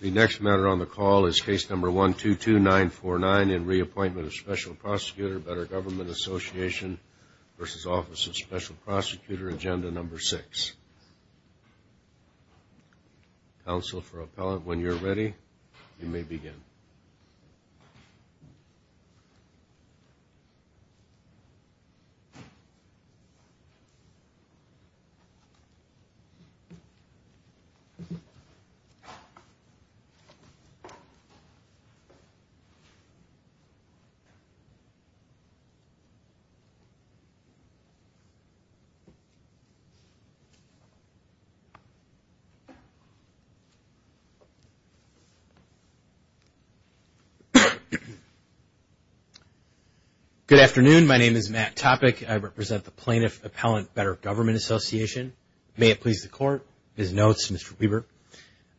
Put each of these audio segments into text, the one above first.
The next matter on the call is Case Number 122949 in re Appointment of Special Prosecutor Better Government Association v. Office of Special Prosecutor, Agenda Number 6. Counsel for Appellant, when you're ready, you may begin. Good afternoon. My name is Matt Topic. I represent the Plaintiff Appellant Better Government Association. May it please the Court, Ms. Notes, Mr. Weber.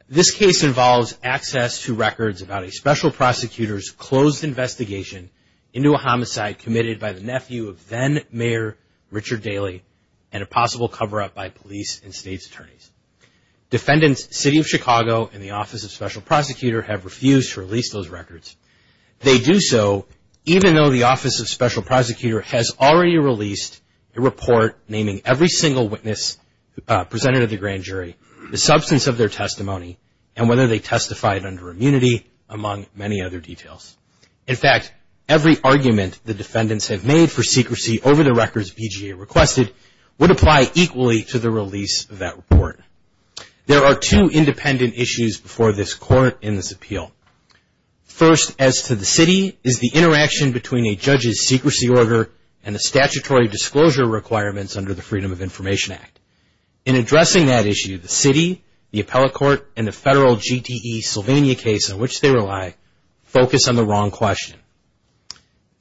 This case involves access to records about a special prosecutor's closed investigation into a homicide committed by the nephew of then Mayor Richard Daley and a possible cover-up by police and state's attorneys. Defendants, City of Chicago and the Office of Special Prosecutor have refused to release those records. They do so even though the Office of Special Prosecutor has already released a report naming every single witness presented at the grand jury, the substance of their testimony and whether they testified under immunity, among many other details. In fact, every argument the defendants have made for secrecy over the records BJA requested would apply equally to the release of that report. There are two independent issues before this Court in this appeal. First, as to the City, is the interaction between a public body and the Federal GTE Investigation Act. In addressing that issue, the City, the Appellate Court and the Federal GTE Sylvania case on which they rely focus on the wrong question.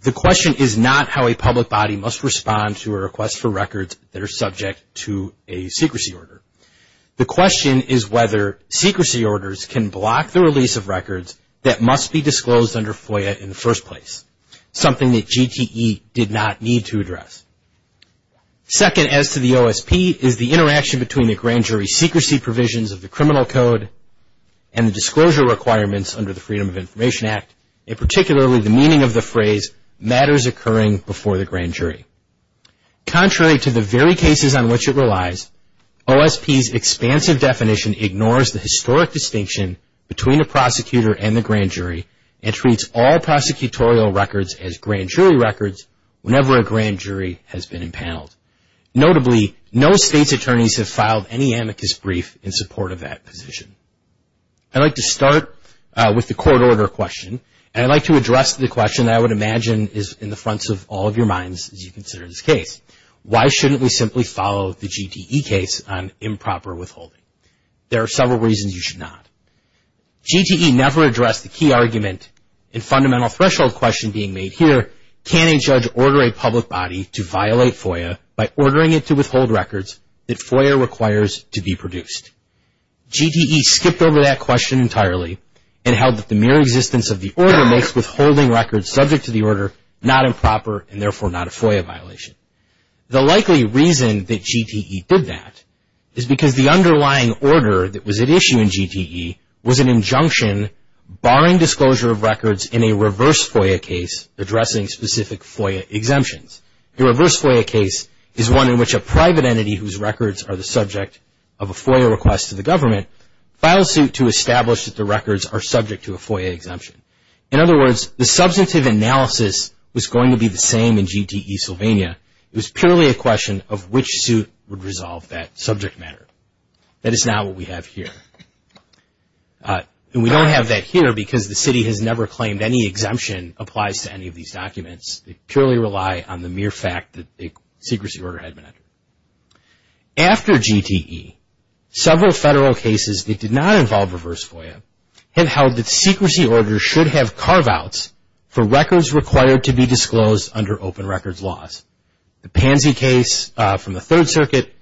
The question is not how a public body must respond to a request for records that are subject to a secrecy order. The question is whether secrecy orders can block the release of records that must be disclosed under FOIA in the first place, something that GTE did not need to address. Second, as to the OSP, is the interaction between the grand jury secrecy provisions of the criminal code and the disclosure requirements under the Freedom of Information Act, and particularly the meaning of the phrase, matters occurring before the grand jury. Contrary to the very cases on which it relies, OSP's expansive definition ignores the historic distinction between a prosecutor and the grand jury and treats all prosecutorial records as grand jury records whenever a grand jury has been impaneled. Notably, no state's attorneys have filed any amicus brief in support of that position. I'd like to start with the court order question and I'd like to address the question that I would imagine is in the fronts of all of your minds as you consider this case. Why shouldn't we simply follow the GTE case on improper withholding? There are several reasons you should not. GTE never addressed the key argument in fundamental threshold question being made here, can a judge order a public body to violate FOIA by ordering it to withhold records that FOIA requires to be produced? GTE skipped over that question entirely and held that the mere existence of the order makes withholding records subject to the order not improper and therefore not a FOIA violation. The likely reason that GTE did that is because the underlying order that was at issue in GTE was an injunction barring disclosure of records in a reverse FOIA case addressing specific FOIA exemptions. The reverse FOIA case is one in which a private entity whose records are the subject of a FOIA request to the government files suit to establish that the records are subject to a FOIA exemption. In other words, the substantive analysis was going to be the same in GTE Sylvania. It was purely a question of which suit would resolve that subject matter. That is not what we have here. And we don't have that here because the city has never claimed any exemption applies to any of these documents. They purely rely on the mere fact that the secrecy order had been entered. After GTE, several federal cases that did not involve reverse FOIA have held that secrecy orders should have carve-outs for records required to be disclosed under open records laws. The Pansy case from the Third Circuit,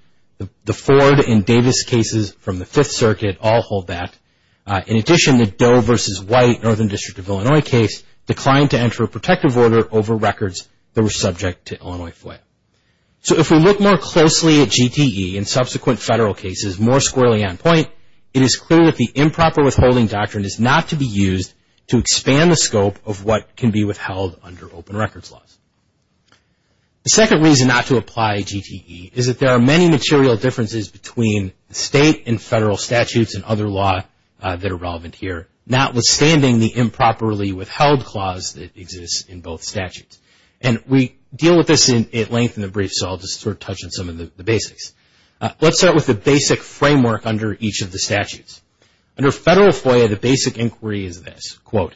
the Ford and Davis cases from the Fifth Circuit all hold that. In addition, the Doe v. White Northern District of Illinois case declined to enter a protective order over records that were subject to Illinois FOIA. So if we look more closely at GTE and subsequent federal cases more squarely on point, it is clear that the improper withholding doctrine is not to be used to expand the scope of what can be withheld under open records laws. The second reason not to apply GTE is that there are many material differences between state and federal statutes and other law that are relevant here, notwithstanding the improperly withheld clause that exists in both statutes. And we deal with this at length in the brief, so I'll just sort of touch on some of the basics. Let's start with the basic framework under each of the statutes. Under federal FOIA, the basic inquiry is this, quote,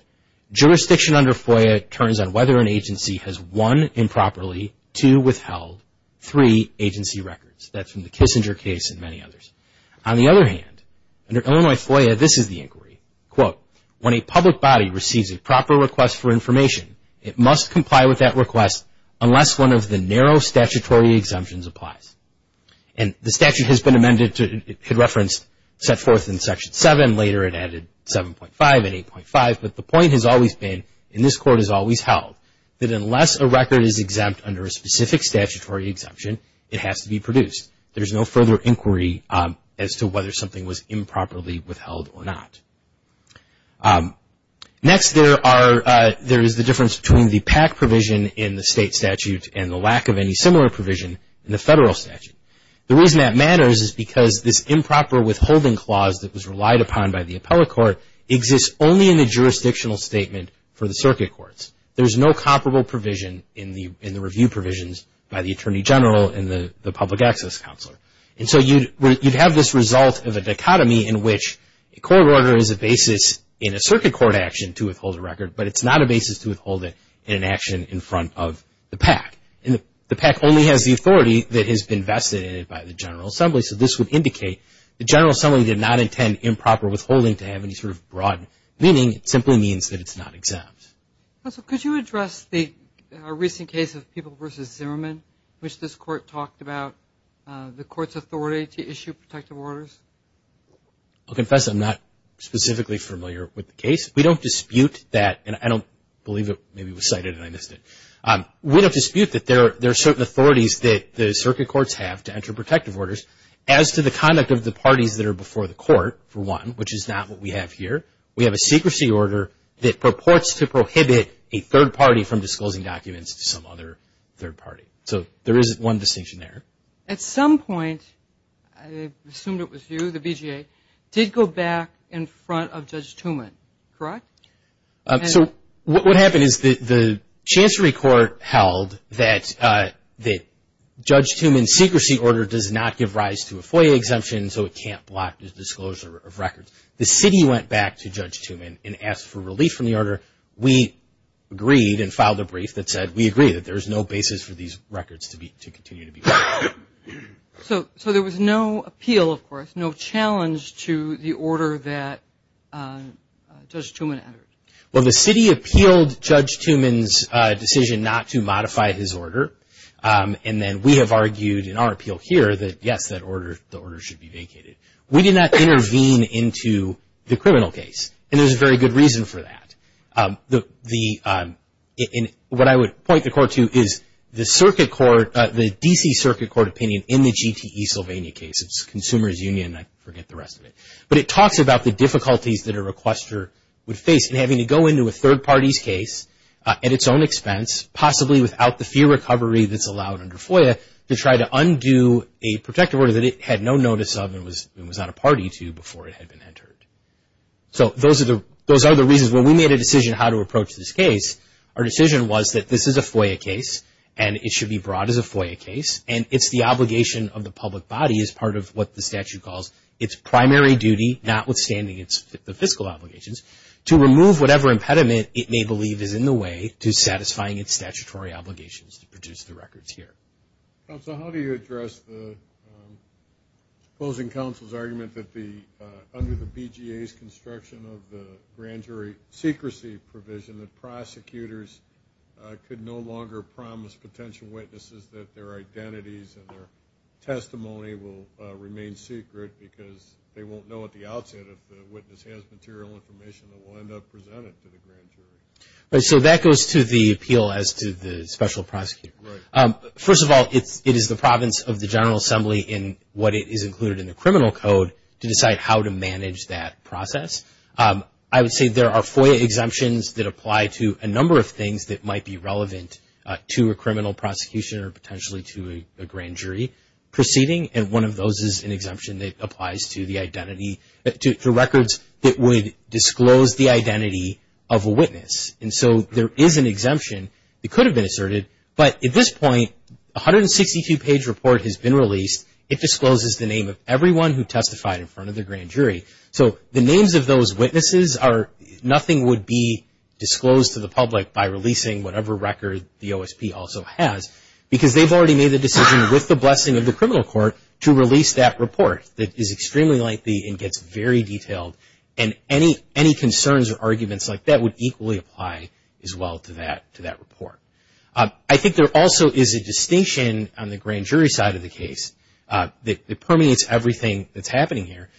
jurisdiction under FOIA turns on whether an agency has one, improperly, two, withheld, three, agency records. That's from the Kissinger case and many others. On the other hand, under Illinois FOIA, this is the inquiry, quote, when a public body receives a proper request for information, it must comply with that request unless one of the narrow statutory exemptions applies. And the statute has been amended to reference set forth in Section 7, later it added 7.5 and 8.5, but the point has always been, and this Court has always held, that unless a record is exempt under a specific statutory exemption, it has to be produced. There's no further inquiry as to whether something was improperly withheld or not. Next, there is the difference between the PAC provision in the state statute and the lack of any similar provision in the federal statute. The reason that matters is because this improper withholding clause that was relied upon by the appellate court exists only in the jurisdictional statement for the circuit courts. There's no comparable provision in the review provisions by the Attorney General and the Public Access Counselor. And so you'd have this result of a dichotomy in which a record is a basis in a circuit court action to withhold a record, but it's not a basis to withhold it in an action in front of the PAC. And the PAC only has the authority that has been vested in it by the General Assembly, so this would indicate the General Assembly did not intend improper withholding to have any sort of broad meaning. It simply means that it's not exempt. Also, could you address the recent case of People v. Zimmerman, which this Court talked about, the Court's authority to issue protective orders? I'll confess I'm not specifically familiar with the case. We don't dispute that, and I don't believe it maybe was cited and I missed it. We don't dispute that there are certain authorities that the circuit courts have to enter protective orders as to the conduct of the parties that are before the court, for one, which is not what we have here. We have a secrecy order that purports to prohibit a third party from disclosing documents to some other third party. So there is one distinction there. At some point, I assumed it was you, the BJA, did go back in front of Judge Tumman, correct? So what happened is the Chancery Court held that Judge Tumman's secrecy order does not give rise to a FOIA exemption, so it can't block the disclosure of records. The city went back to Judge Tumman and asked for relief from the order. We agreed and we did not intervene. So there was no appeal, of course, no challenge to the order that Judge Tumman entered? Well, the city appealed Judge Tumman's decision not to modify his order, and then we have argued in our appeal here that, yes, the order should be vacated. We did not intervene into the criminal case, and there's a very good reason for that. What I would point the court to is the DC Circuit Court opinion in the GTE Sylvania case. It's Consumers Union, I forget the rest of it. But it talks about the difficulties that a requester would face in having to go into a third party's case at its own expense, possibly without the fee recovery that's allowed under FOIA, to try to undo a protective order that it had no notice of and was not a party to before it had been entered. So those are the reasons. When we made a decision how to approach this case, our decision was that this is a FOIA case, and it should be brought as a FOIA case, and it's the obligation of the public body as part of what the statute calls its primary duty, notwithstanding the fiscal obligations, to remove whatever impediment it may believe is in the way to satisfying its statutory obligations to produce the records here. Counsel, how do you address the closing counsel's argument that under the BGA's construction of the grand jury secrecy provision, the prosecutors could no longer promise potential witnesses that their identities and their testimony will remain secret, because they won't know at the outset if the witness has material information that will end up presented to the grand jury? So that goes to the appeal as to the special prosecutor. First of all, it is the province of the General Assembly in what is included in the criminal code to decide how to manage that process. I would say there are FOIA exemptions that apply to a number of things that might be relevant to a criminal prosecution or potentially to a grand jury proceeding, and one of those is an exemption that applies to the identity, to records that would disclose the identity of a witness. And so there is an exemption that could have been asserted, but at this point, a 162-page report has been released. It discloses the name of everyone who testified in front of the grand jury. So the names of those witnesses are, nothing would be disclosed to the public by releasing whatever record the OSP also has, because they've already made the decision with the blessing of the criminal court to release that report. It is extremely lengthy and gets very detailed, and any concerns or arguments like that would equally apply as well to that report. I think there also is a distinction on the grand jury side of the case that permeates everything that's happening here.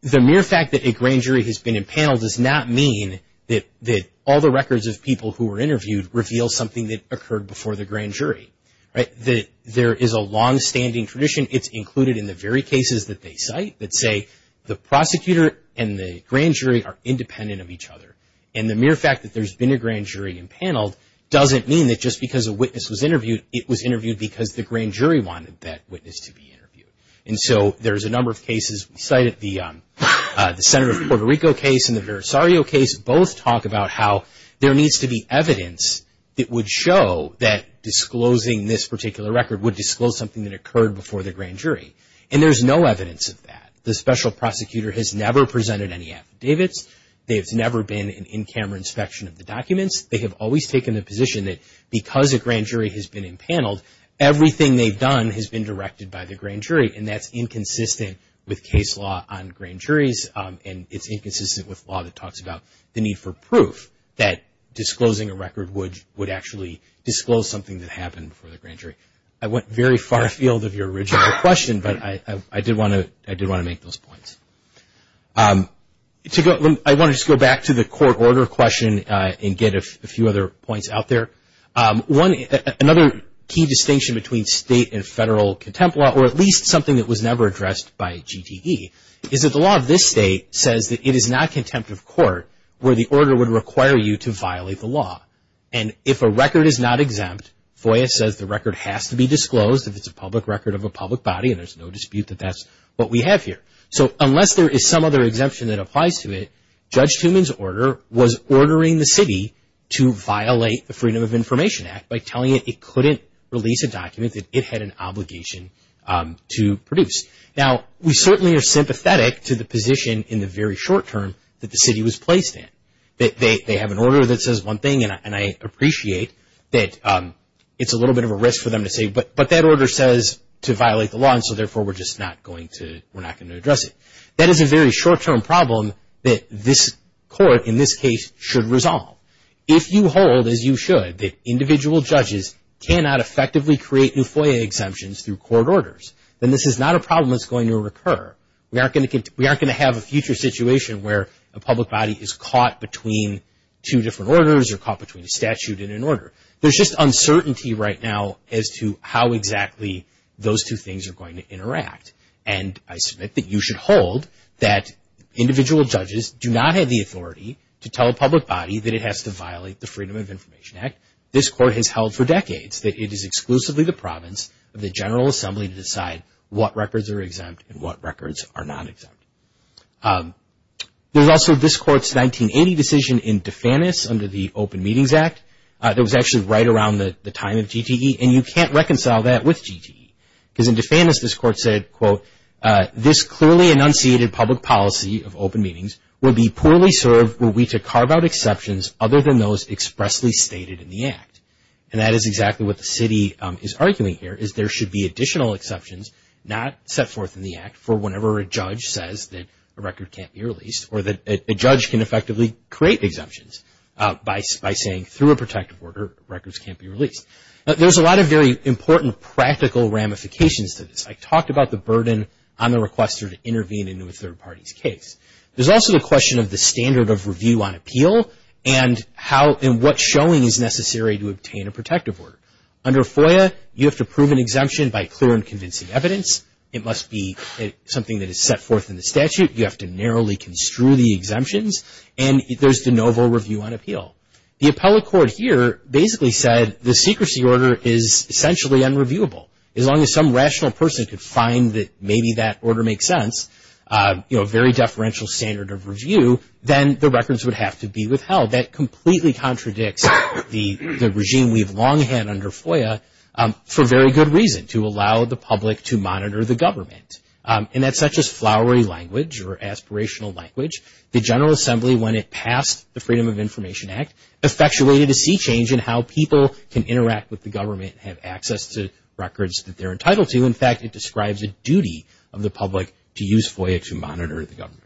The mere fact that a grand jury has been impaneled does not mean that all the records of people who were interviewed reveal something that occurred before the grand jury. There is a longstanding tradition. It's included in the very cases that they cite that say the prosecutor and the grand jury are independent of each other. And the mere fact that there's been a grand jury impaneled doesn't mean that just because a witness was interviewed, it was interviewed because the grand jury wanted that witness to be interviewed. And so there's a number of cases cited. The Senator of Puerto Rico case and the Verisario case both talk about how there needs to be evidence that would show that disclosing this particular record would disclose something that occurred before the grand jury. And there's no evidence of that. The special prosecutor has never presented any affidavits. There's never been an in-camera inspection of the documents. They have always taken the position that because a grand jury has been impaneled, everything they've done has been directed by the grand jury. And that's inconsistent with case law on grand juries and it's inconsistent with law that talks about the need for proof that disclosing a record would actually disclose something that happened before the grand jury. I went very far afield of your original question, but I did want to make those points. I want to just go back to the court order question and get a few other points out there. Another key distinction between state and federal contempt law, or at least something that was never addressed by GTE, is that the law of this state says that it is not contempt of court where the order would require you to violate the law. And if a record is not exempt, FOIA says the record has to be disclosed. If it's a public record of a public body, then there's no dispute that that's what we have here. So unless there is some other exemption that applies to it, Judge Tuman's order was ordering the city to violate the Freedom of Information Act by telling it it couldn't release a document that it had an obligation to produce. Now, we certainly are sympathetic to the position in the very short term that the city was placed in. They have an order that says one thing, and I appreciate that it's a little bit of a risk for them to say, but that order says to violate the law, and so therefore we're just not going to address it. That is a very short term problem that this court, in this case, should resolve. If you hold, as you should, that individual judges cannot effectively create new FOIA exemptions through court orders, then this is not a problem that's going to recur. We aren't going to have a future situation where a public body is caught between two different orders or caught between a statute and an order. There's just uncertainty right now as to how exactly those two things are going to interact, and I submit that you should hold that individual judges do not have the authority to tell a public body that it has to violate the Freedom of Information Act. This court has held for decades that it is exclusively the province of the General Assembly to decide what records are exempt and what records are not exempt. There's also this court's 1980 decision in DeFantis under the Open Meetings Act that was actually right around the time of GTE, and you can't reconcile that with GTE, because in DeFantis this court said, quote, this clearly enunciated public policy of open meetings will be poorly served were we to carve out exceptions and that is exactly what the city is arguing here is there should be additional exceptions not set forth in the act for whenever a judge says that a record can't be released or that a judge can effectively create exemptions by saying through a protective order records can't be released. There's a lot of very important practical ramifications to this. I talked about the burden on the requester to intervene in a third party's case. There's also the question of the standard of review on appeal and what showing is necessary to obtain a protective order. Under FOIA, you have to prove an exemption by clear and convincing evidence. It must be something that is set forth in the statute. You have to narrowly construe the exemptions, and there's de novo review on appeal. The appellate court here basically said the secrecy order is essentially unreviewable. As long as some rational person could find that maybe that order makes sense, a very deferential standard of review, then the records would have to be withheld. That completely contradicts the regime we've long had under FOIA for very good reason, to allow the public to monitor the government. That's not just flowery language or aspirational language. The General Assembly, when it passed the Freedom of Information Act, effectuated a sea change in how people can interact with the government and have access to records that they're entitled to. In fact, it describes a duty of the public to use FOIA to monitor the government.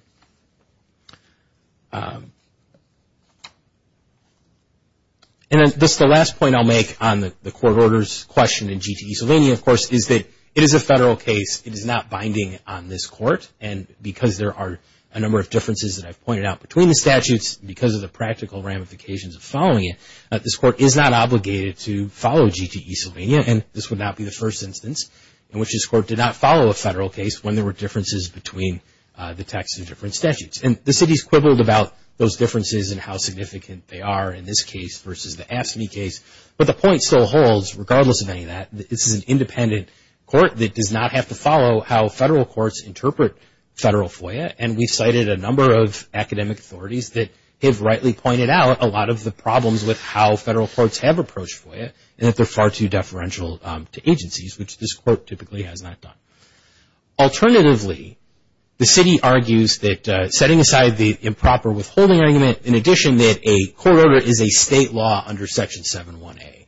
The last point I'll make on the court order's question in GTE Sylvania, of course, is that it is a federal case. It is not binding on this court, and because there are a number of differences that I've pointed out between the statutes, because of the practical ramifications of following it, this court is not obligated to follow GTE Sylvania, and this would not be the first instance in which this court did not follow a federal case when there were differences between the text of different statutes. The city's quibbled about those differences and how significant they are in this case versus the AFSCME case, but the point still holds, regardless of any of that, that this is an independent court that does not have to follow how federal courts interpret federal FOIA, and we've cited a number of academic authorities that have rightly pointed out a lot of the problems with how federal courts have approached FOIA, and that they're far too deferential to agencies, which this court typically has not done. Alternatively, the city argues that setting aside the improper withholding argument, in addition that a court order is a state law under Section 71A.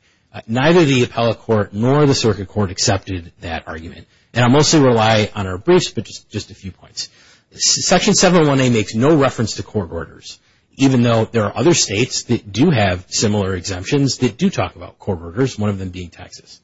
Neither the appellate court nor the circuit court accepted that argument, and I'll mostly rely on our briefs, but just a few points. Section 71A makes no reference to court orders, even though there are other states that do have similar exemptions that do talk about court orders, one of them being Texas.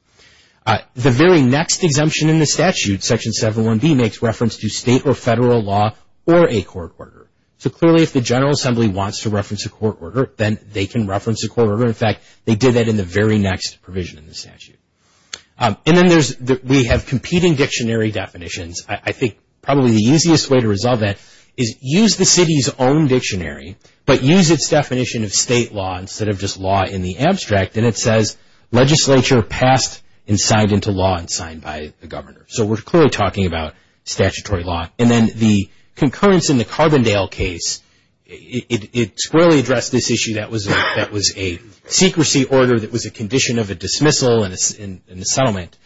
The very next exemption in the statute, Section 71B, makes reference to state or federal law or a court order. So clearly, if the General Assembly wants to reference a court order, then they can reference a court order. In fact, they did that in the very next provision in the statute. We have competing dictionary definitions. I think probably the easiest way to resolve that is use the city's own dictionary, but use its definition of state law instead of just law in the abstract, and it says legislature passed and signed into law and signed by the governor. So we're clearly talking about statutory law. And then the concurrence in the Carbondale case, it squarely addressed this issue that was a secrecy order that was a condition of a dismissal in the settlement.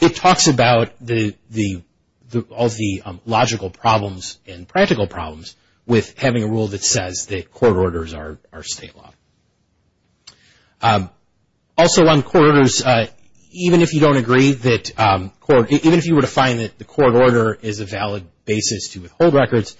It talks about all the logical problems and practical problems with having a rule that says that court orders are state law. Also on court orders, even if you don't agree that court, even if you were to find that the court order is a valid basis to withhold records,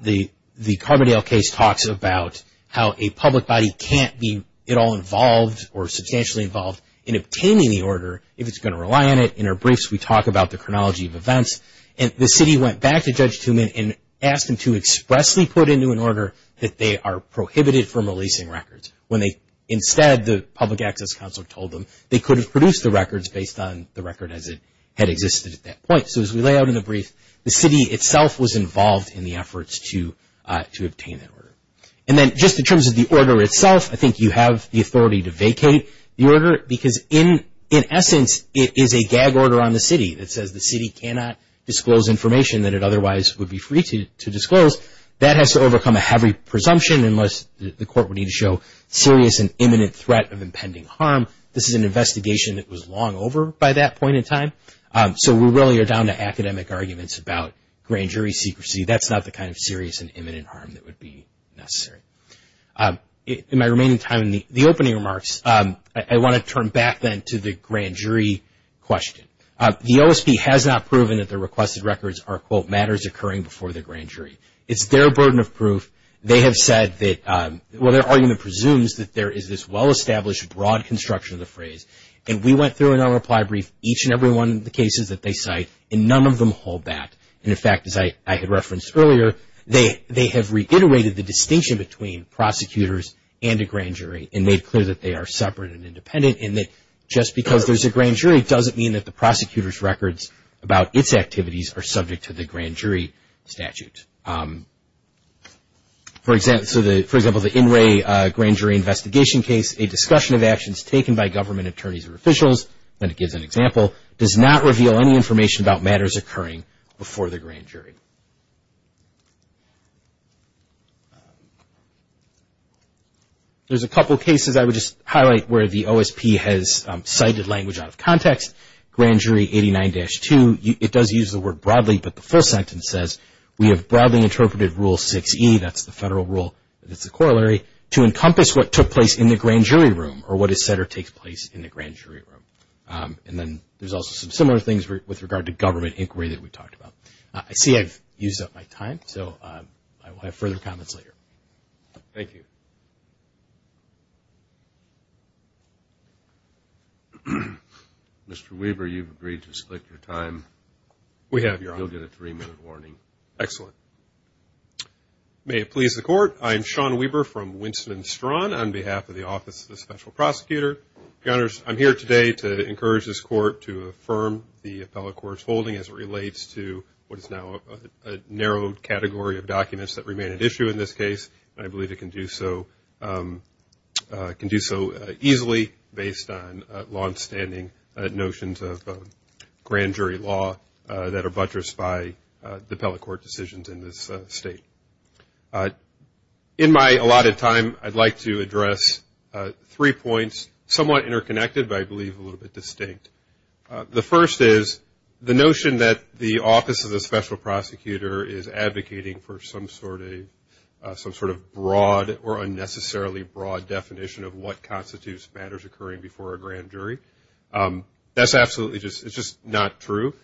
the Carbondale case talks about how a public body can't be at all involved or substantially involved in obtaining the order if it's going to rely on it. In our briefs, we talk about the chronology of events. And the city went back to Judge Tumman and asked him to expressly put into an order that they are prohibited from releasing records when instead the public access council told them they could have produced the records based on the record as it had existed at that point. So as we lay out in the brief, the city itself was involved in the efforts to obtain that order. And then just in terms of the order itself, I think you have the authority to vacate the order because in essence it is a gag order on the city that says the city cannot disclose information that it otherwise would be free to disclose. That has to overcome a heavy presumption unless the court would need to show serious and imminent threat of impending harm. This is an investigation that was long over by that point in time. So we really are down to academic arguments about grand jury secrecy. That's not the kind of serious and imminent harm that would be necessary. In my remaining time in the opening remarks, I want to turn back then to the grand jury question. The OSP has not proven that the requested records are, quote, matters occurring before the grand jury. It's their burden of proof. Their argument presumes that there is this well-established broad construction of the phrase. And we went through in our reply brief each and every one of the cases that they cite, and none of them hold that. And in fact, as I had referenced earlier, they have reiterated the distinction between prosecutors and a grand jury and made clear that they are separate and independent and that just because there's a grand jury doesn't mean that the prosecutor's records about its activities are subject to the grand jury statute. For example, the In Re Grand Jury Investigation case, a discussion of actions taken by government attorneys or officials, and it gives an example, does not reveal any information about matters occurring before the grand jury. There's a couple cases I would just highlight where the OSP has cited language out of context. It says, Grand Jury 89-2, it does use the word broadly, but the full sentence says, we have broadly interpreted Rule 6E, that's the federal rule that's the corollary, to encompass what took place in the grand jury room or what is said or takes place in the grand jury room. And then there's also some similar things with regard to government inquiry that we talked about. I see I've used up my time, so I will have further comments later. Mr. Weber, you've agreed to split your time. We have, Your Honor. You'll get a three-minute warning. Excellent. May it please the Court, I am Sean Weber from Winston-Straun on behalf of the Office of the Special Prosecutor. Your Honors, I'm here today to encourage this Court to affirm the appellate court's holding as it relates to what is now a narrow category of documents that remain at issue in this case. And I believe it can do so easily based on longstanding notions of grand jury law that are buttressed by the appellate court decisions in this State. In my allotted time, I'd like to address three points, somewhat interconnected, but I believe a little bit distinct. The first is the notion that the Office of the Special Prosecutor is advocating for some sort of broad or unnecessarily broad definition of what constitutes matters occurring before a grand jury. That's absolutely just not true.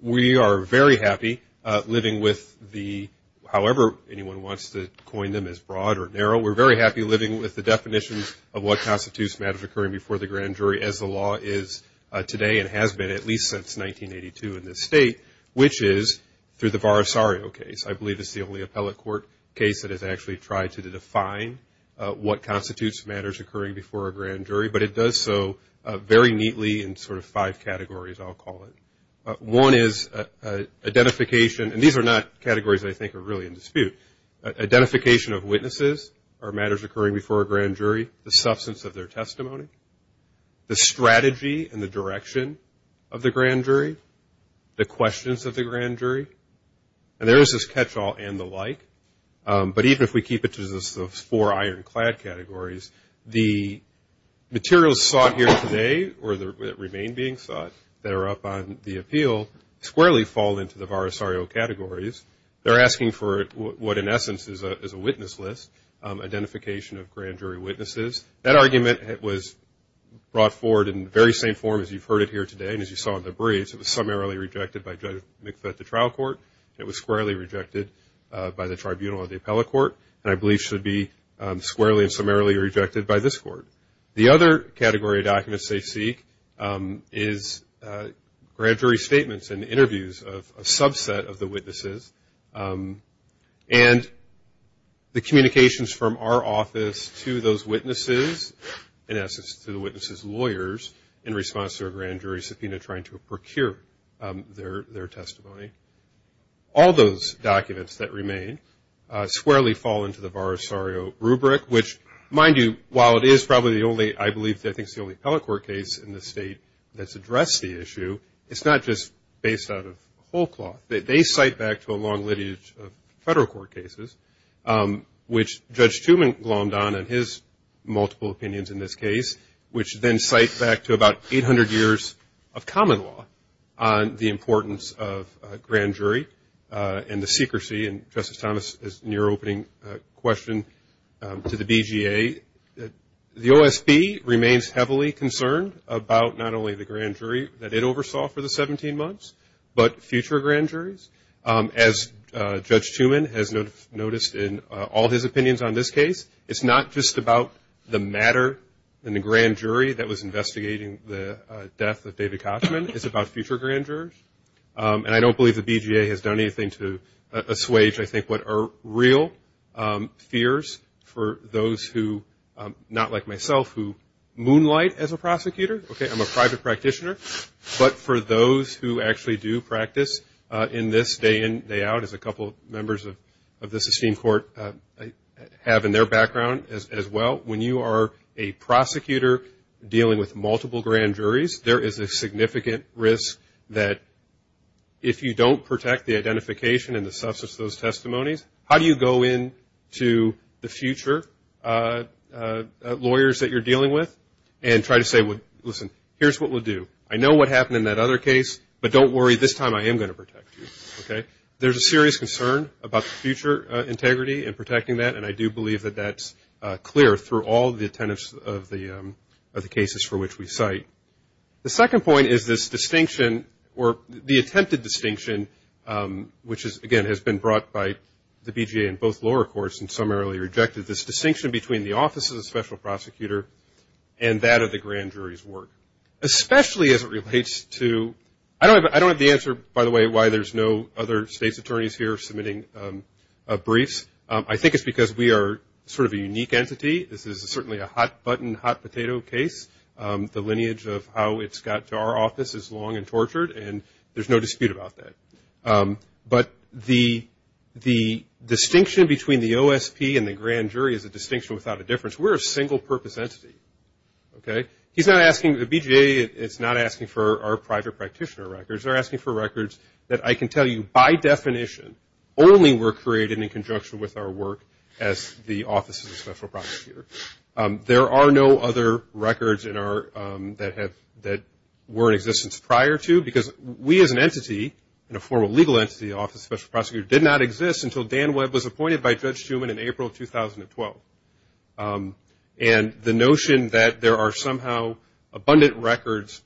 We are very happy living with the, however anyone wants to coin them as broad or narrow, we're very happy living with the definitions of what constitutes matters occurring before the grand jury as the law is today and has been at least since 1982 in this State, which is through the Varasario case. I believe it's the only appellate court case that has actually tried to define what constitutes matters occurring before a grand jury, but it does so very neatly in sort of five categories, I'll call it. One is identification, and these are not categories that I think are really in dispute, identification of witnesses or matters occurring before a grand jury, the substance of their testimony, the strategy and the direction of the grand jury, the questions of the grand jury, and there is this catch-all and the like. But even if we keep it to those four ironclad categories, the materials sought here today or that remain being sought that are up on the appeal squarely fall into the Varasario categories. They're asking for what in essence is a witness list, identification of grand jury witnesses. That argument was brought forward in the very same form as you've heard it here today and as you saw in the briefs. It was summarily rejected by Judge McFett of the trial court, it was squarely rejected by the tribunal of the appellate court, and I believe should be squarely and summarily rejected by this court. The other category of documents they seek is grand jury statements and interviews of a subset of the witnesses, and the communications from our office to those witnesses, in essence to the witnesses' lawyers in response to a grand jury subpoena trying to procure their testimony. All those documents that remain squarely fall into the Varasario rubric, which mind you, while it is probably the only, I believe I think it's the only appellate court case in the state that's addressed the issue, it's not just based out of whole cloth. They cite back to a long lineage of federal court cases, which Judge Tumeng glommed on in his multiple opinions in this case, which then cite back to about 800 years of common law on the importance of grand jury and the secrecy, and Justice Thomas, in your opening question, to the BGA. The OSB remains heavily concerned about not only the grand jury that it oversaw for the 17 months, but future grand juries, as Judge Tumeng has noticed in all his opinions on this case. It's not just about the matter in the grand jury that was investigating the death of David Kochman. It's about future grand jurors, and I don't believe the BGA has done anything to assuage, I think, what are real fears for those who, not like myself, who moonlight as a prosecutor. I'm a private practitioner, but for those who actually do practice in this day in, day out, as a couple of members of this esteemed court have in their background as well, when you are a prosecutor dealing with multiple grand juries, there is a significant risk that if you don't protect the identification and the substance of those testimonies, how do you go into the future lawyers that you're dealing with and try to say, listen, here's what we'll do. I know what happened in that other case, but don't worry, this time I am going to protect you. There's a serious concern about the future integrity and protecting that, and I do believe that that's clear through all the attendance of the cases for which we cite. The second point is this distinction, or the attempted distinction, which, again, has been brought by the BGA in both lower courts and some earlier rejected, this distinction between the office of the special prosecutor and that of the grand jury's work. Especially as it relates to, I don't have the answer, by the way, why there's no other state's attorneys here submitting briefs. I think it's because we are sort of a unique entity. This is certainly a hot-button, hot-potato case. The lineage of how it's got to our office is long and tortured, and there's no dispute about that. But the distinction between the OSP and the grand jury is a distinction without a difference. We're a single-purpose entity, okay? The BGA is not asking for our private practitioner records. They're asking for records that I can tell you by definition only were created in conjunction with our work as the Office of the Special Prosecutor. There are no other records that were in existence prior to, because we as an entity, and a formal legal entity, the Office of the Special Prosecutor, did not exist until Dan Webb was appointed by Judge Shuman in April of 2012. And the notion that there are somehow abundant records,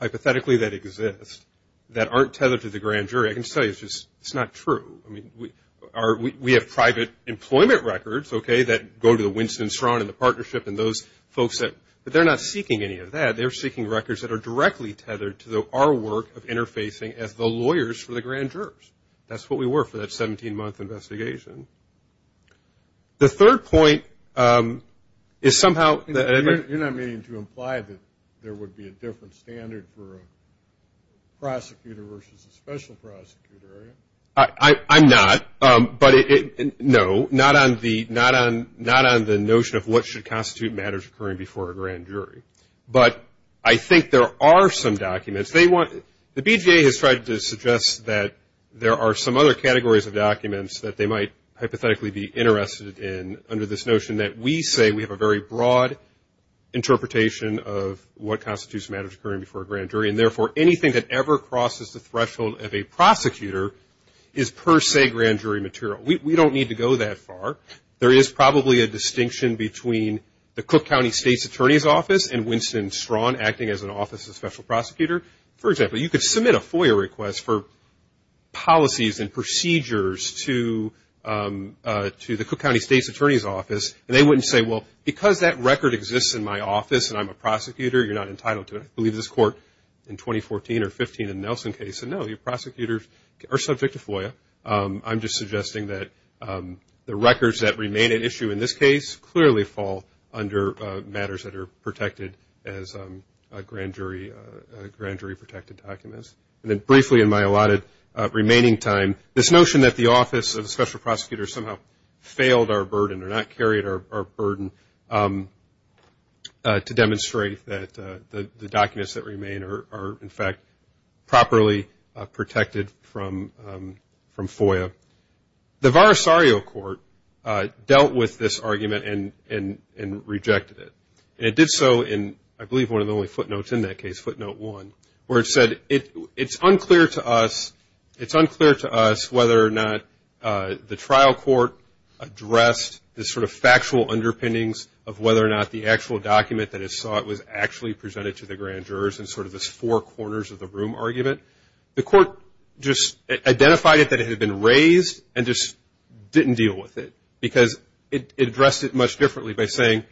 hypothetically, that exist, that aren't tethered to the grand jury, I can tell you, it's just, it's not true. I mean, we have private employment records, okay, that go to the Winston-Strawn and the partnership and those folks. But they're not seeking any of that. They're seeking records that are directly tethered to our work of interfacing as the lawyers for the grand jurors. That's what we were for that 17-month investigation. The third point is somehow. You're not meaning to imply that there would be a different standard for a prosecutor versus a special prosecutor, are you? I'm not. No, not on the notion of what should constitute matters occurring before a grand jury. But I think there are some documents. They want, the BJA has tried to suggest that there are some other categories of documents that they might hypothetically be interested in under this notion that we say we have a very broad interpretation of what constitutes matters occurring before a grand jury, and therefore anything that ever crosses the threshold of a prosecutor is per se grand jury material. We don't need to go that far. There is probably a distinction between the Cook County State's Attorney's Office and Winston-Strawn acting as an office of special prosecutor. For example, you could submit a FOIA request for policies and procedures to the Cook County State's Attorney's Office and they wouldn't say, well, because that record exists in my office and I'm a prosecutor, you're not entitled to it. I believe this court in 2014 or 15 in the Nelson case said no, your prosecutors are subject to FOIA. I'm just suggesting that the records that remain at issue in this case clearly fall under matters that are protected as grand jury protected documents. And then briefly in my allotted remaining time, this notion that the office of special prosecutor somehow failed our burden or not carried our burden to demonstrate that the documents that remain are, in fact, properly protected from FOIA. The Varasario Court dealt with this argument and rejected it. And it did so in, I believe, one of the only footnotes in that case, footnote one, where it said it's unclear to us whether or not the trial court addressed the sort of factual underpinnings of whether or not the actual document that it sought was actually presented to the grand jurors in sort of this four corners of the room argument. The court just identified it that it had been raised and just didn't deal with it because it addressed it much differently by saying,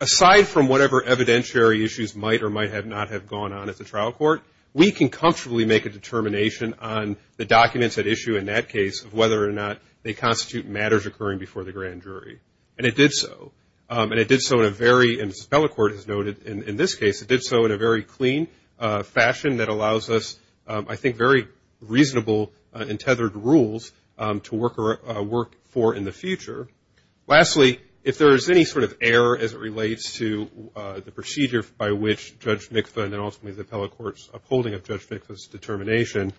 aside from whatever evidentiary issues might or might not have gone on at the trial court, we can comfortably make a determination on the documents at issue in that case of whether or not they constitute matters occurring before the grand jury. And it did so. And it did so in a very, as the appellate court has noted in this case, it did so in a very clean fashion that allows us, I think, very reasonable and tethered rules to work for in the future. Lastly, if there is any sort of error as it relates to the procedure by which Judge Mikva and then ultimately the appellate court's upholding of Judge Mikva's determination,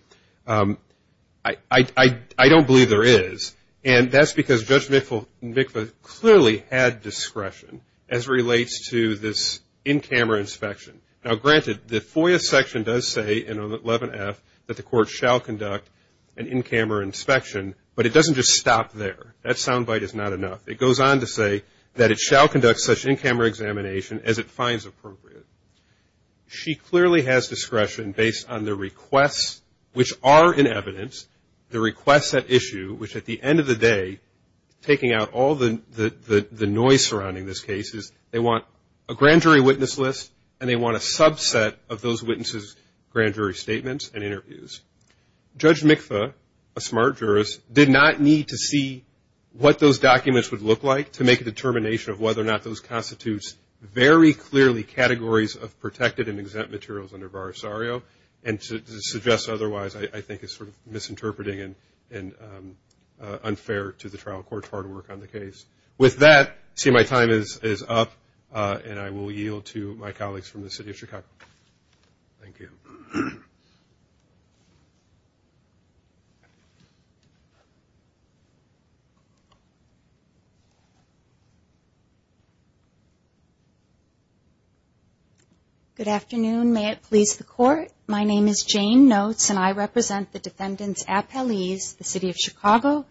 I don't believe there is. And that's because Judge Mikva clearly had discretion as relates to this in-camera inspection. Now, granted, the FOIA section does say in 11F that the court shall conduct an in-camera inspection, but it doesn't just stop there. That sound bite is not enough. It goes on to say that it shall conduct such in-camera examination as it finds appropriate. She clearly has discretion based on the requests which are in evidence, the requests at issue, which at the end of the day, taking out all the noise surrounding this case, they want a grand jury witness list, and they want a subset of those witnesses' grand jury statements and interviews. Judge Mikva, a smart jurist, did not need to see what those documents would look like to make a determination of whether or not those constitutes very clearly categories of protected and exempt materials under Varisario, and to suggest otherwise I think is sort of misinterpreting and unfair to the trial court's hard work on the case. With that, I see my time is up, and I will yield to my colleagues from the City of Chicago. Thank you. Good afternoon. May it please the Court? Good afternoon. Good afternoon. Good afternoon. Good afternoon. Good afternoon. Good afternoon. Good afternoon. Good afternoon.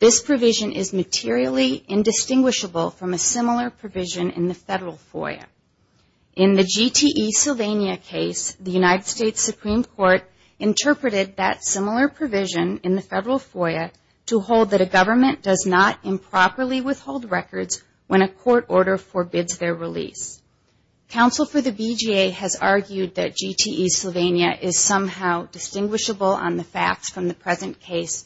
This provision is materially indistinguishable from a similar provision in the Federal FOIA. In the GTE Sylvania case, the United States Supreme Court interpreted that similar provision in the Federal FOIA to hold that a government does not improperly withhold records when a court order forbids their release. Counsel for the VGA has argued that GTE Sylvania is somehow distinguishable on the facts from the present case.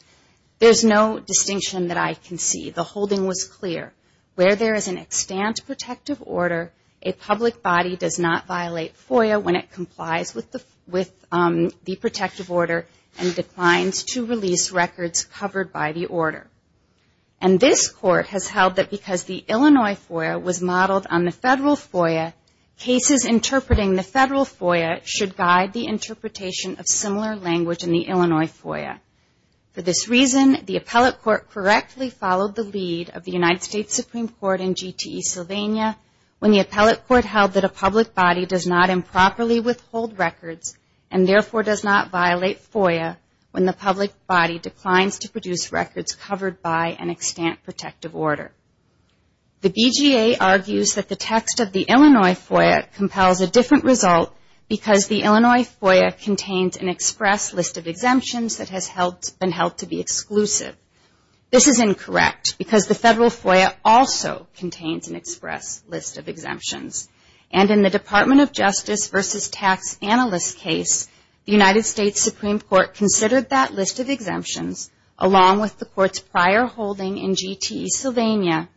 There's no distinction that I can see. The holding was clear. Where there is an extant protective order, a public body does not violate FOIA when it complies with the protective order and declines to release records covered by the order. And this Court has held that because the Illinois FOIA was modeled on the Federal FOIA, cases interpreting the Federal FOIA should guide the interpretation of similar language in the Illinois FOIA. For this reason, the appellate court correctly followed the lead of the United States Supreme Court in GTE Sylvania when the appellate court held that a public body does not improperly withhold records and therefore does not violate FOIA when the public body declines to produce records covered by an extant protective order. The VGA argues that the text of the Illinois FOIA compels a different result because the Illinois FOIA contains an express list of exemptions that has been held to be exclusive. This is incorrect because the Federal FOIA also contains an express list of exemptions. And in the Department of Justice versus Tax Analyst case, the United States Supreme Court considered that list of exemptions along with the Court's prior holding in GTE Sylvania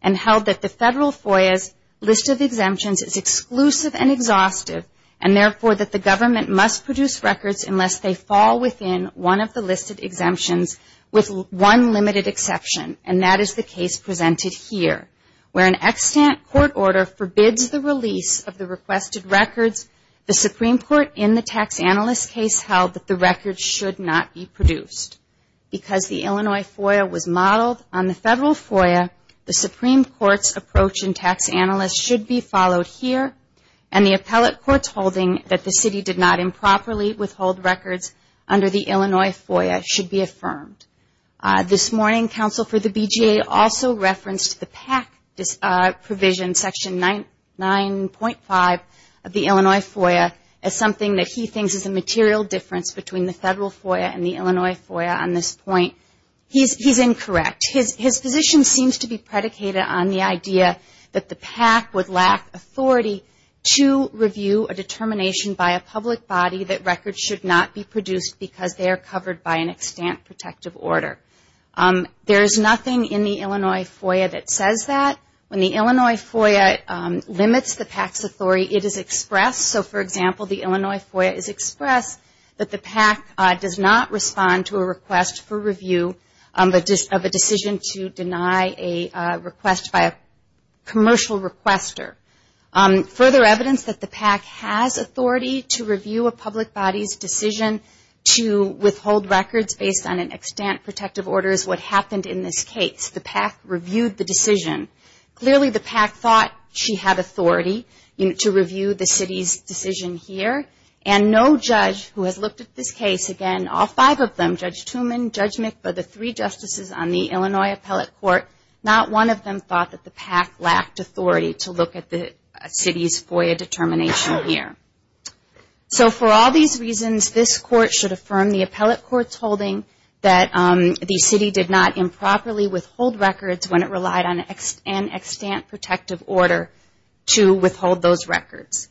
and held that the Federal FOIA's list of exemptions is exclusive and exhaustive and therefore that the government must produce records unless they fall within one of the listed exemptions with one limited exception, and that is the case presented here. Where an extant court order forbids the release of the requested records, the Supreme Court in the Tax Analyst case held that the records should not be produced. Because the Illinois FOIA was modeled on the Federal FOIA, the Supreme Court's approach in Tax Analyst should be followed here and the appellate court's holding that the city did not improperly withhold records under the Illinois FOIA should be affirmed. This morning, counsel for the BGA also referenced the PAC provision, Section 9.5 of the Illinois FOIA, as something that he thinks is a material difference between the Federal FOIA and the Illinois FOIA on this point. He's incorrect. His position seems to be predicated on the idea that the PAC would lack authority to review a determination by a public body that records should not be produced because they are covered by an extant protective order. There is nothing in the Illinois FOIA that says that. When the Illinois FOIA limits the PAC's authority, it is expressed. So, for example, the Illinois FOIA is expressed that the PAC does not respond to a request for review of a decision to deny a request by a commercial requester. Further evidence that the PAC has authority to review a public body's decision to withhold records based on an extant protective order is what happened in this case. The PAC reviewed the decision. Clearly, the PAC thought she had authority to review the city's decision here, and no judge who has looked at this case, again, all five of them, Judge Tooman, Judge McBurr, the three justices on the Illinois Appellate Court, not one of them thought that the PAC lacked authority to look at the city's FOIA determination here. So, for all these reasons, this Court should affirm the Appellate Court's holding that the city did not improperly withhold records when it relied on an extant protective order to withhold those records.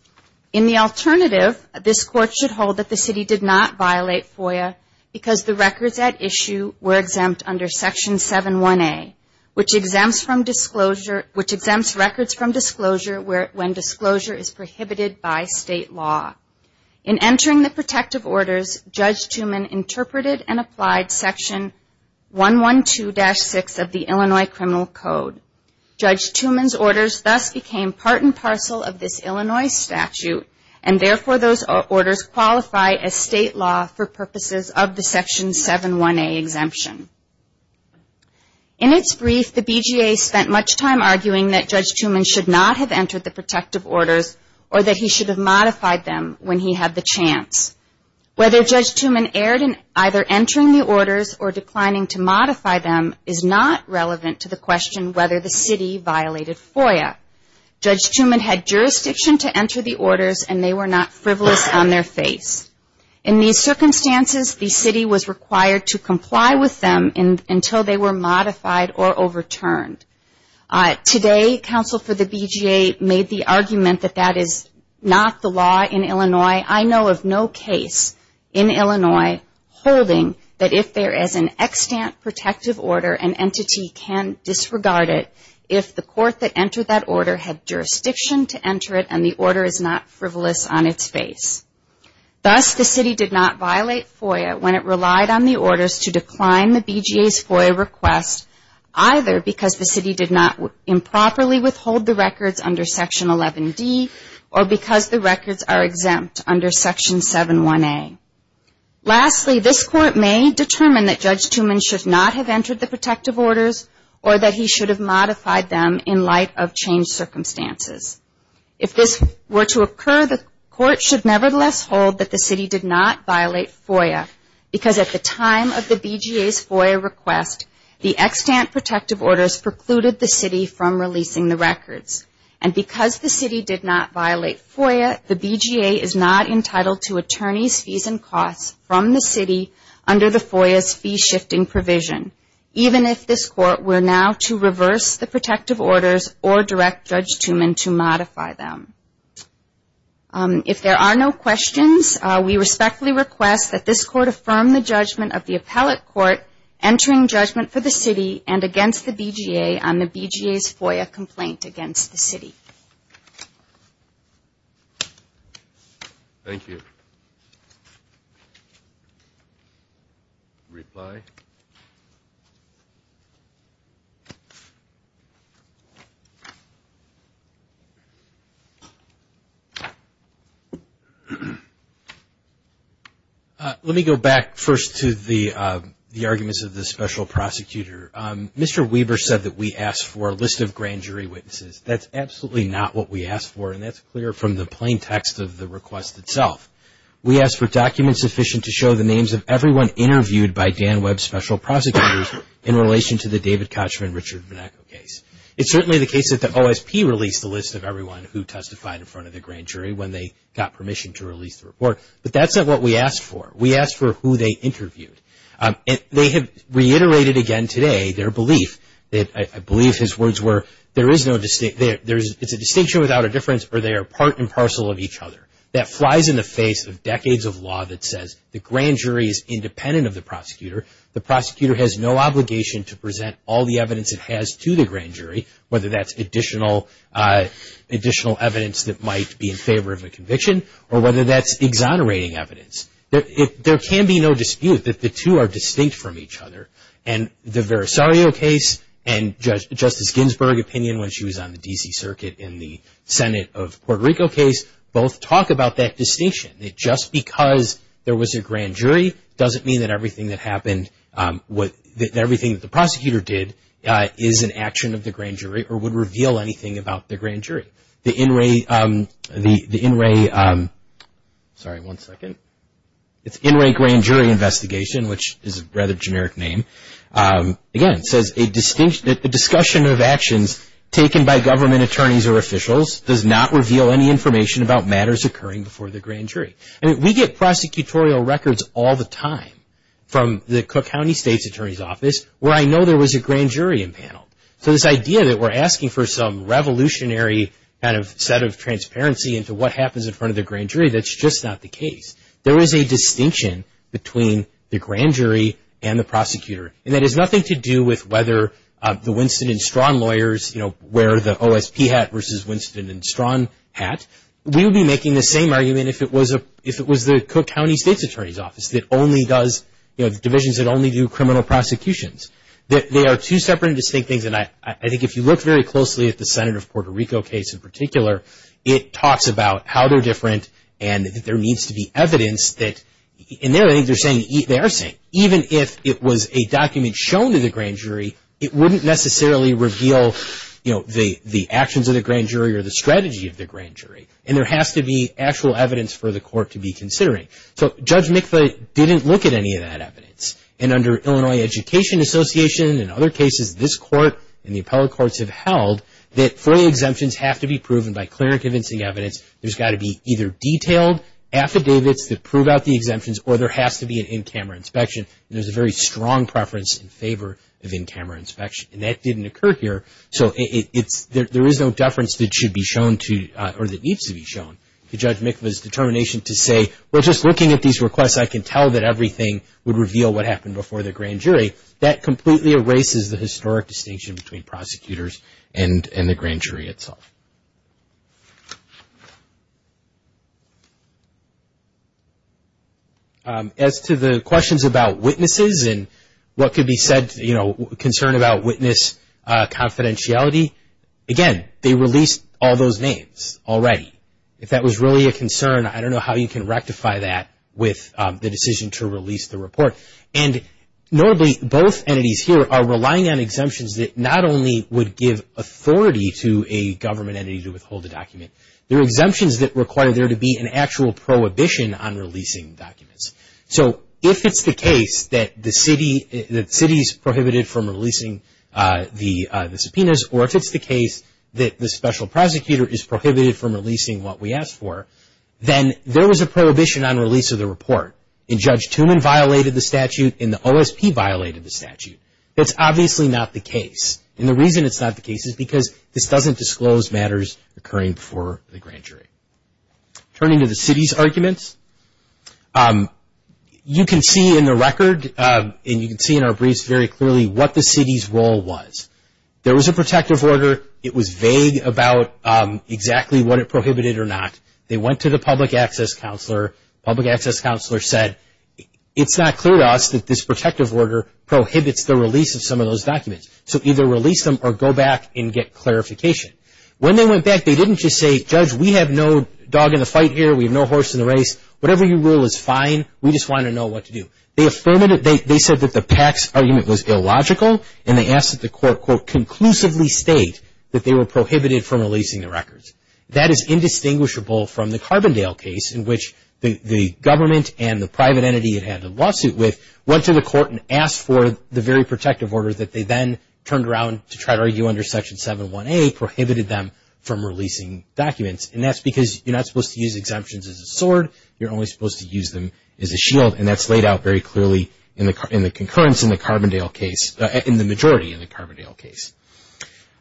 In the alternative, this Court should hold that the city did not violate FOIA because the records at issue were exempt under Section 7-1A, which exempts records from disclosure when disclosure is prohibited by state law. In entering the protective orders, Judge Tooman interpreted and applied Section 112-6 of the Illinois Criminal Code. Judge Tooman's orders thus became part and parcel of this Illinois statute, and therefore those orders qualify as state law for purposes of the Section 7-1A exemption. In its brief, the BGA spent much time arguing that Judge Tooman should not have entered the protective orders or that he should have modified them when he had the chance. Whether Judge Tooman erred in either entering the orders or declining to modify them is not relevant to the question whether the city violated FOIA. Judge Tooman had jurisdiction to enter the orders, and they were not frivolous on their face. In these circumstances, the city was required to comply with them until they were modified or overturned. Today, counsel for the BGA made the argument that that is not the law in Illinois. I know of no case in Illinois holding that if there is an extant protective order, an entity can disregard it if the court that entered that order had jurisdiction to enter it and the order is not frivolous on its face. Thus, the city did not violate FOIA when it relied on the orders to decline the BGA's FOIA request, either because the city did not improperly withhold the records under Section 11D or because the records are exempt under Section 7-1A. Lastly, this Court may determine that Judge Tooman should not have entered the protective orders or that he should have modified them in light of changed circumstances. If this were to occur, the Court should nevertheless hold that the city did not violate FOIA because at the time of the BGA's FOIA request, the extant protective orders precluded the city from releasing the records. And because the city did not violate FOIA, the BGA is not entitled to attorneys' fees and costs from the city under the FOIA's fee-shifting provision, even if this Court were now to reverse the protective orders or direct Judge Tooman to modify them. If there are no questions, we respectfully request that this Court affirm the judgment of the Appellate Court entering judgment for the city and against the BGA on the BGA's FOIA complaint against the city. Reply. Let me go back first to the arguments of the Special Prosecutor. Mr. Weber said that we asked for a list of grand jury witnesses. That's absolutely not what we asked for, and that's clear from the plain text of the request itself. We asked for documents sufficient to show the names of everyone interviewed by Dan Webb's Special Prosecutors in relation to the David Kochman-Richard Vinacco case. It's certainly the case that the OSP released the list of everyone who testified in front of the grand jury when they got permission to release the report, but that's not what we asked for. We asked for who they interviewed, and they have reiterated again today their belief that, I believe his words were, there is no distinct, it's a distinction without a difference or they are part and parcel of each other. That flies in the face of decades of law that says the grand jury is independent of the prosecutor. The prosecutor has no obligation to present all the evidence it has to the grand jury, whether that's additional evidence that might be in favor of a conviction or whether that's exonerating evidence. There can be no dispute that the two are distinct from each other, and the Verisario case and Justice Ginsburg's opinion when she was on the D.C. Circuit in the Senate of Puerto Rico case both talk about that distinction, that just because there was a grand jury doesn't mean that everything that happened, everything that the prosecutor did is an action of the grand jury or would reveal anything about the grand jury. The In Re Grand Jury Investigation, which is a rather generic name, again says that the discussion of actions taken by government attorneys or officials does not reveal any information about matters occurring before the grand jury. We get prosecutorial records all the time from the Cook County State's Attorney's Office where I know there was a grand jury impaneled. So this idea that we're asking for some revolutionary kind of set of transparency into what happens in front of the grand jury, that's just not the case. There is a distinction between the grand jury and the prosecutor, and that has nothing to do with whether the Winston and Strawn lawyers wear the OSP hat versus Winston and Strawn hat. We would be making the same argument if it was the Cook County State's Attorney's Office that only does, you know, the divisions that only do criminal prosecutions. They are two separate and distinct things, and I think if you look very closely at the Senate of Puerto Rico case in particular, it talks about how they're different and that there needs to be evidence that, and there I think they're saying, they are saying, even if it was a document shown to the grand jury, it wouldn't necessarily reveal, you know, the actions of the grand jury or the strategy of the grand jury, and there has to be actual evidence for the court to be considering. So Judge Mikla didn't look at any of that evidence, and under Illinois Education Association and other cases this court and the appellate courts have held that FOIA exemptions have to be proven by clear and convincing evidence. There's got to be either detailed affidavits that prove out the exemptions, or there has to be an in-camera inspection, and there's a very strong preference in favor of in-camera inspection, and that didn't occur here, so there is no deference that should be shown to, or that needs to be shown to Judge Mikla's determination to say, well, just looking at these requests, I can tell that everything would reveal what happened before the grand jury. That completely erases the historic distinction between prosecutors and the grand jury itself. As to the questions about witnesses and what could be said, you know, concern about witness confidentiality, again, they released all those names already. If that was really a concern, I don't know how you can rectify that with the decision to release the report. And notably, both entities here are relying on exemptions that not only would give authority to a government entity to withhold a document, there are exemptions that require there to be an actual prohibition on releasing documents. So if it's the case that the city's prohibited from releasing the subpoenas, or if it's the case that the special prosecutor is prohibited from releasing what we asked for, then there was a prohibition on release of the report. And Judge Tooman violated the statute, and the OSP violated the statute. That's obviously not the case, and the reason it's not the case is because this doesn't disclose matters occurring before the grand jury. Turning to the city's arguments, you can see in the record, and you can see in our briefs very clearly, what the city's role was. There was a protective order. It was vague about exactly what it prohibited or not. They went to the public access counselor, public access counselor said, it's not clear to us that this protective order prohibits the release of some of those documents. So either release them or go back and get clarification. When they went back, they didn't just say, Judge, we have no dog in the fight here, we have no horse in the race, whatever you rule is fine, we just want to know what to do. They said that the Pax argument was illogical, and they asked that the court, quote, conclusively state that they were prohibited from releasing the records. That is indistinguishable from the Carbondale case, in which the government and the private entity it had a lawsuit with, went to the court and asked for the very protective order that they then turned around to try to argue under Section 718, that they prohibited them from releasing documents, and that's because you're not supposed to use exemptions as a sword, you're only supposed to use them as a shield, and that's laid out very clearly in the concurrence in the Carbondale case, in the majority in the Carbondale case.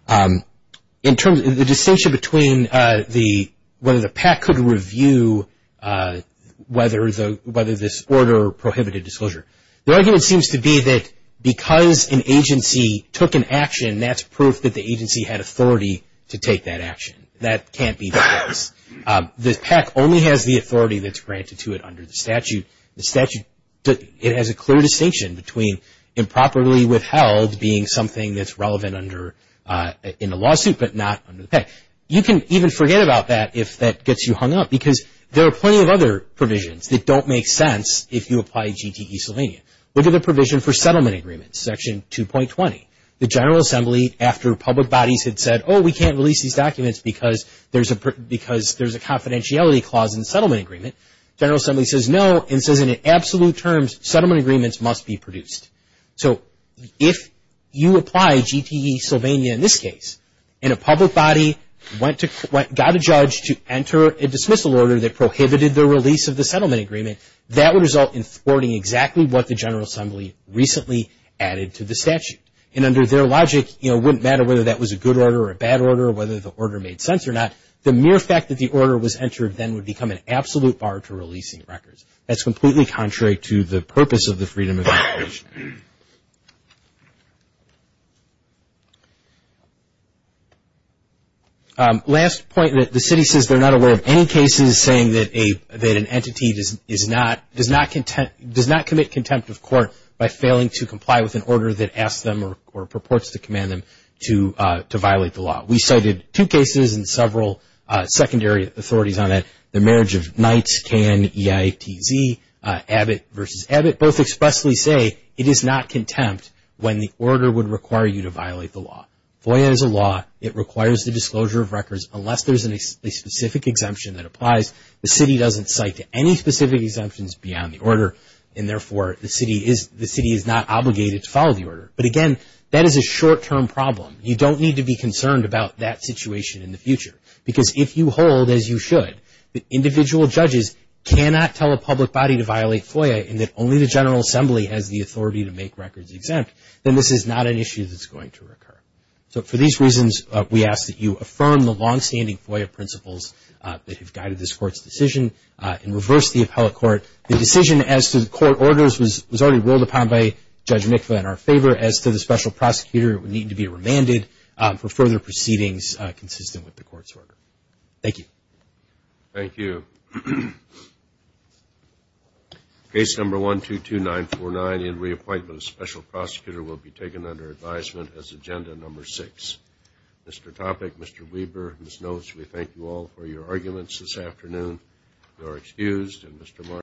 The distinction between whether the PAC could review whether this order prohibited disclosure. The argument seems to be that because an agency took an action, that's proof that the agency had authority to take that action, that can't be the case. The PAC only has the authority that's granted to it under the statute. It has a clear distinction between improperly withheld being something that's relevant under, you can even forget about that if that gets you hung up, because there are plenty of other provisions that don't make sense if you apply GTE-Sylvania. Look at the provision for settlement agreements, Section 2.20. The General Assembly, after public bodies had said, oh, we can't release these documents because there's a confidentiality clause in the settlement agreement, General Assembly says no, and says in absolute terms, settlement agreements must be produced. So if you apply GTE-Sylvania in this case, and a public body got a judge to enter a dismissal order that prohibited the release of the settlement agreement, that would result in thwarting exactly what the General Assembly recently added to the statute. And under their logic, it wouldn't matter whether that was a good order or a bad order, or whether the order made sense or not, the mere fact that the order was entered then would become an absolute bar to releasing records. That's completely contrary to the purpose of the Freedom of Information Act. Last point, the city says they're not aware of any cases saying that an entity does not commit contempt of court by failing to comply with an order that asks them or purports to command them to violate the law. I cited two cases and several secondary authorities on it, the marriage of Knights, K-N-E-I-T-Z, Abbott versus Abbott, both expressly say it is not contempt when the order would require you to violate the law. FOIA is a law, it requires the disclosure of records unless there's a specific exemption that applies. The city doesn't cite any specific exemptions beyond the order, and therefore the city is not obligated to follow the order. But again, that is a short-term problem. You don't need to be concerned about that situation in the future, because if you hold, as you should, that individual judges cannot tell a public body to violate FOIA and that only the General Assembly has the authority to make records exempt, then this is not an issue that's going to occur. So for these reasons, we ask that you affirm the longstanding FOIA principles that have guided this Court's decision and reverse the appellate court. The decision as to the court orders was already rolled upon by Judge Mikva in our favor. As to the special prosecutor, it would need to be remanded for further proceedings consistent with the court's order. Thank you.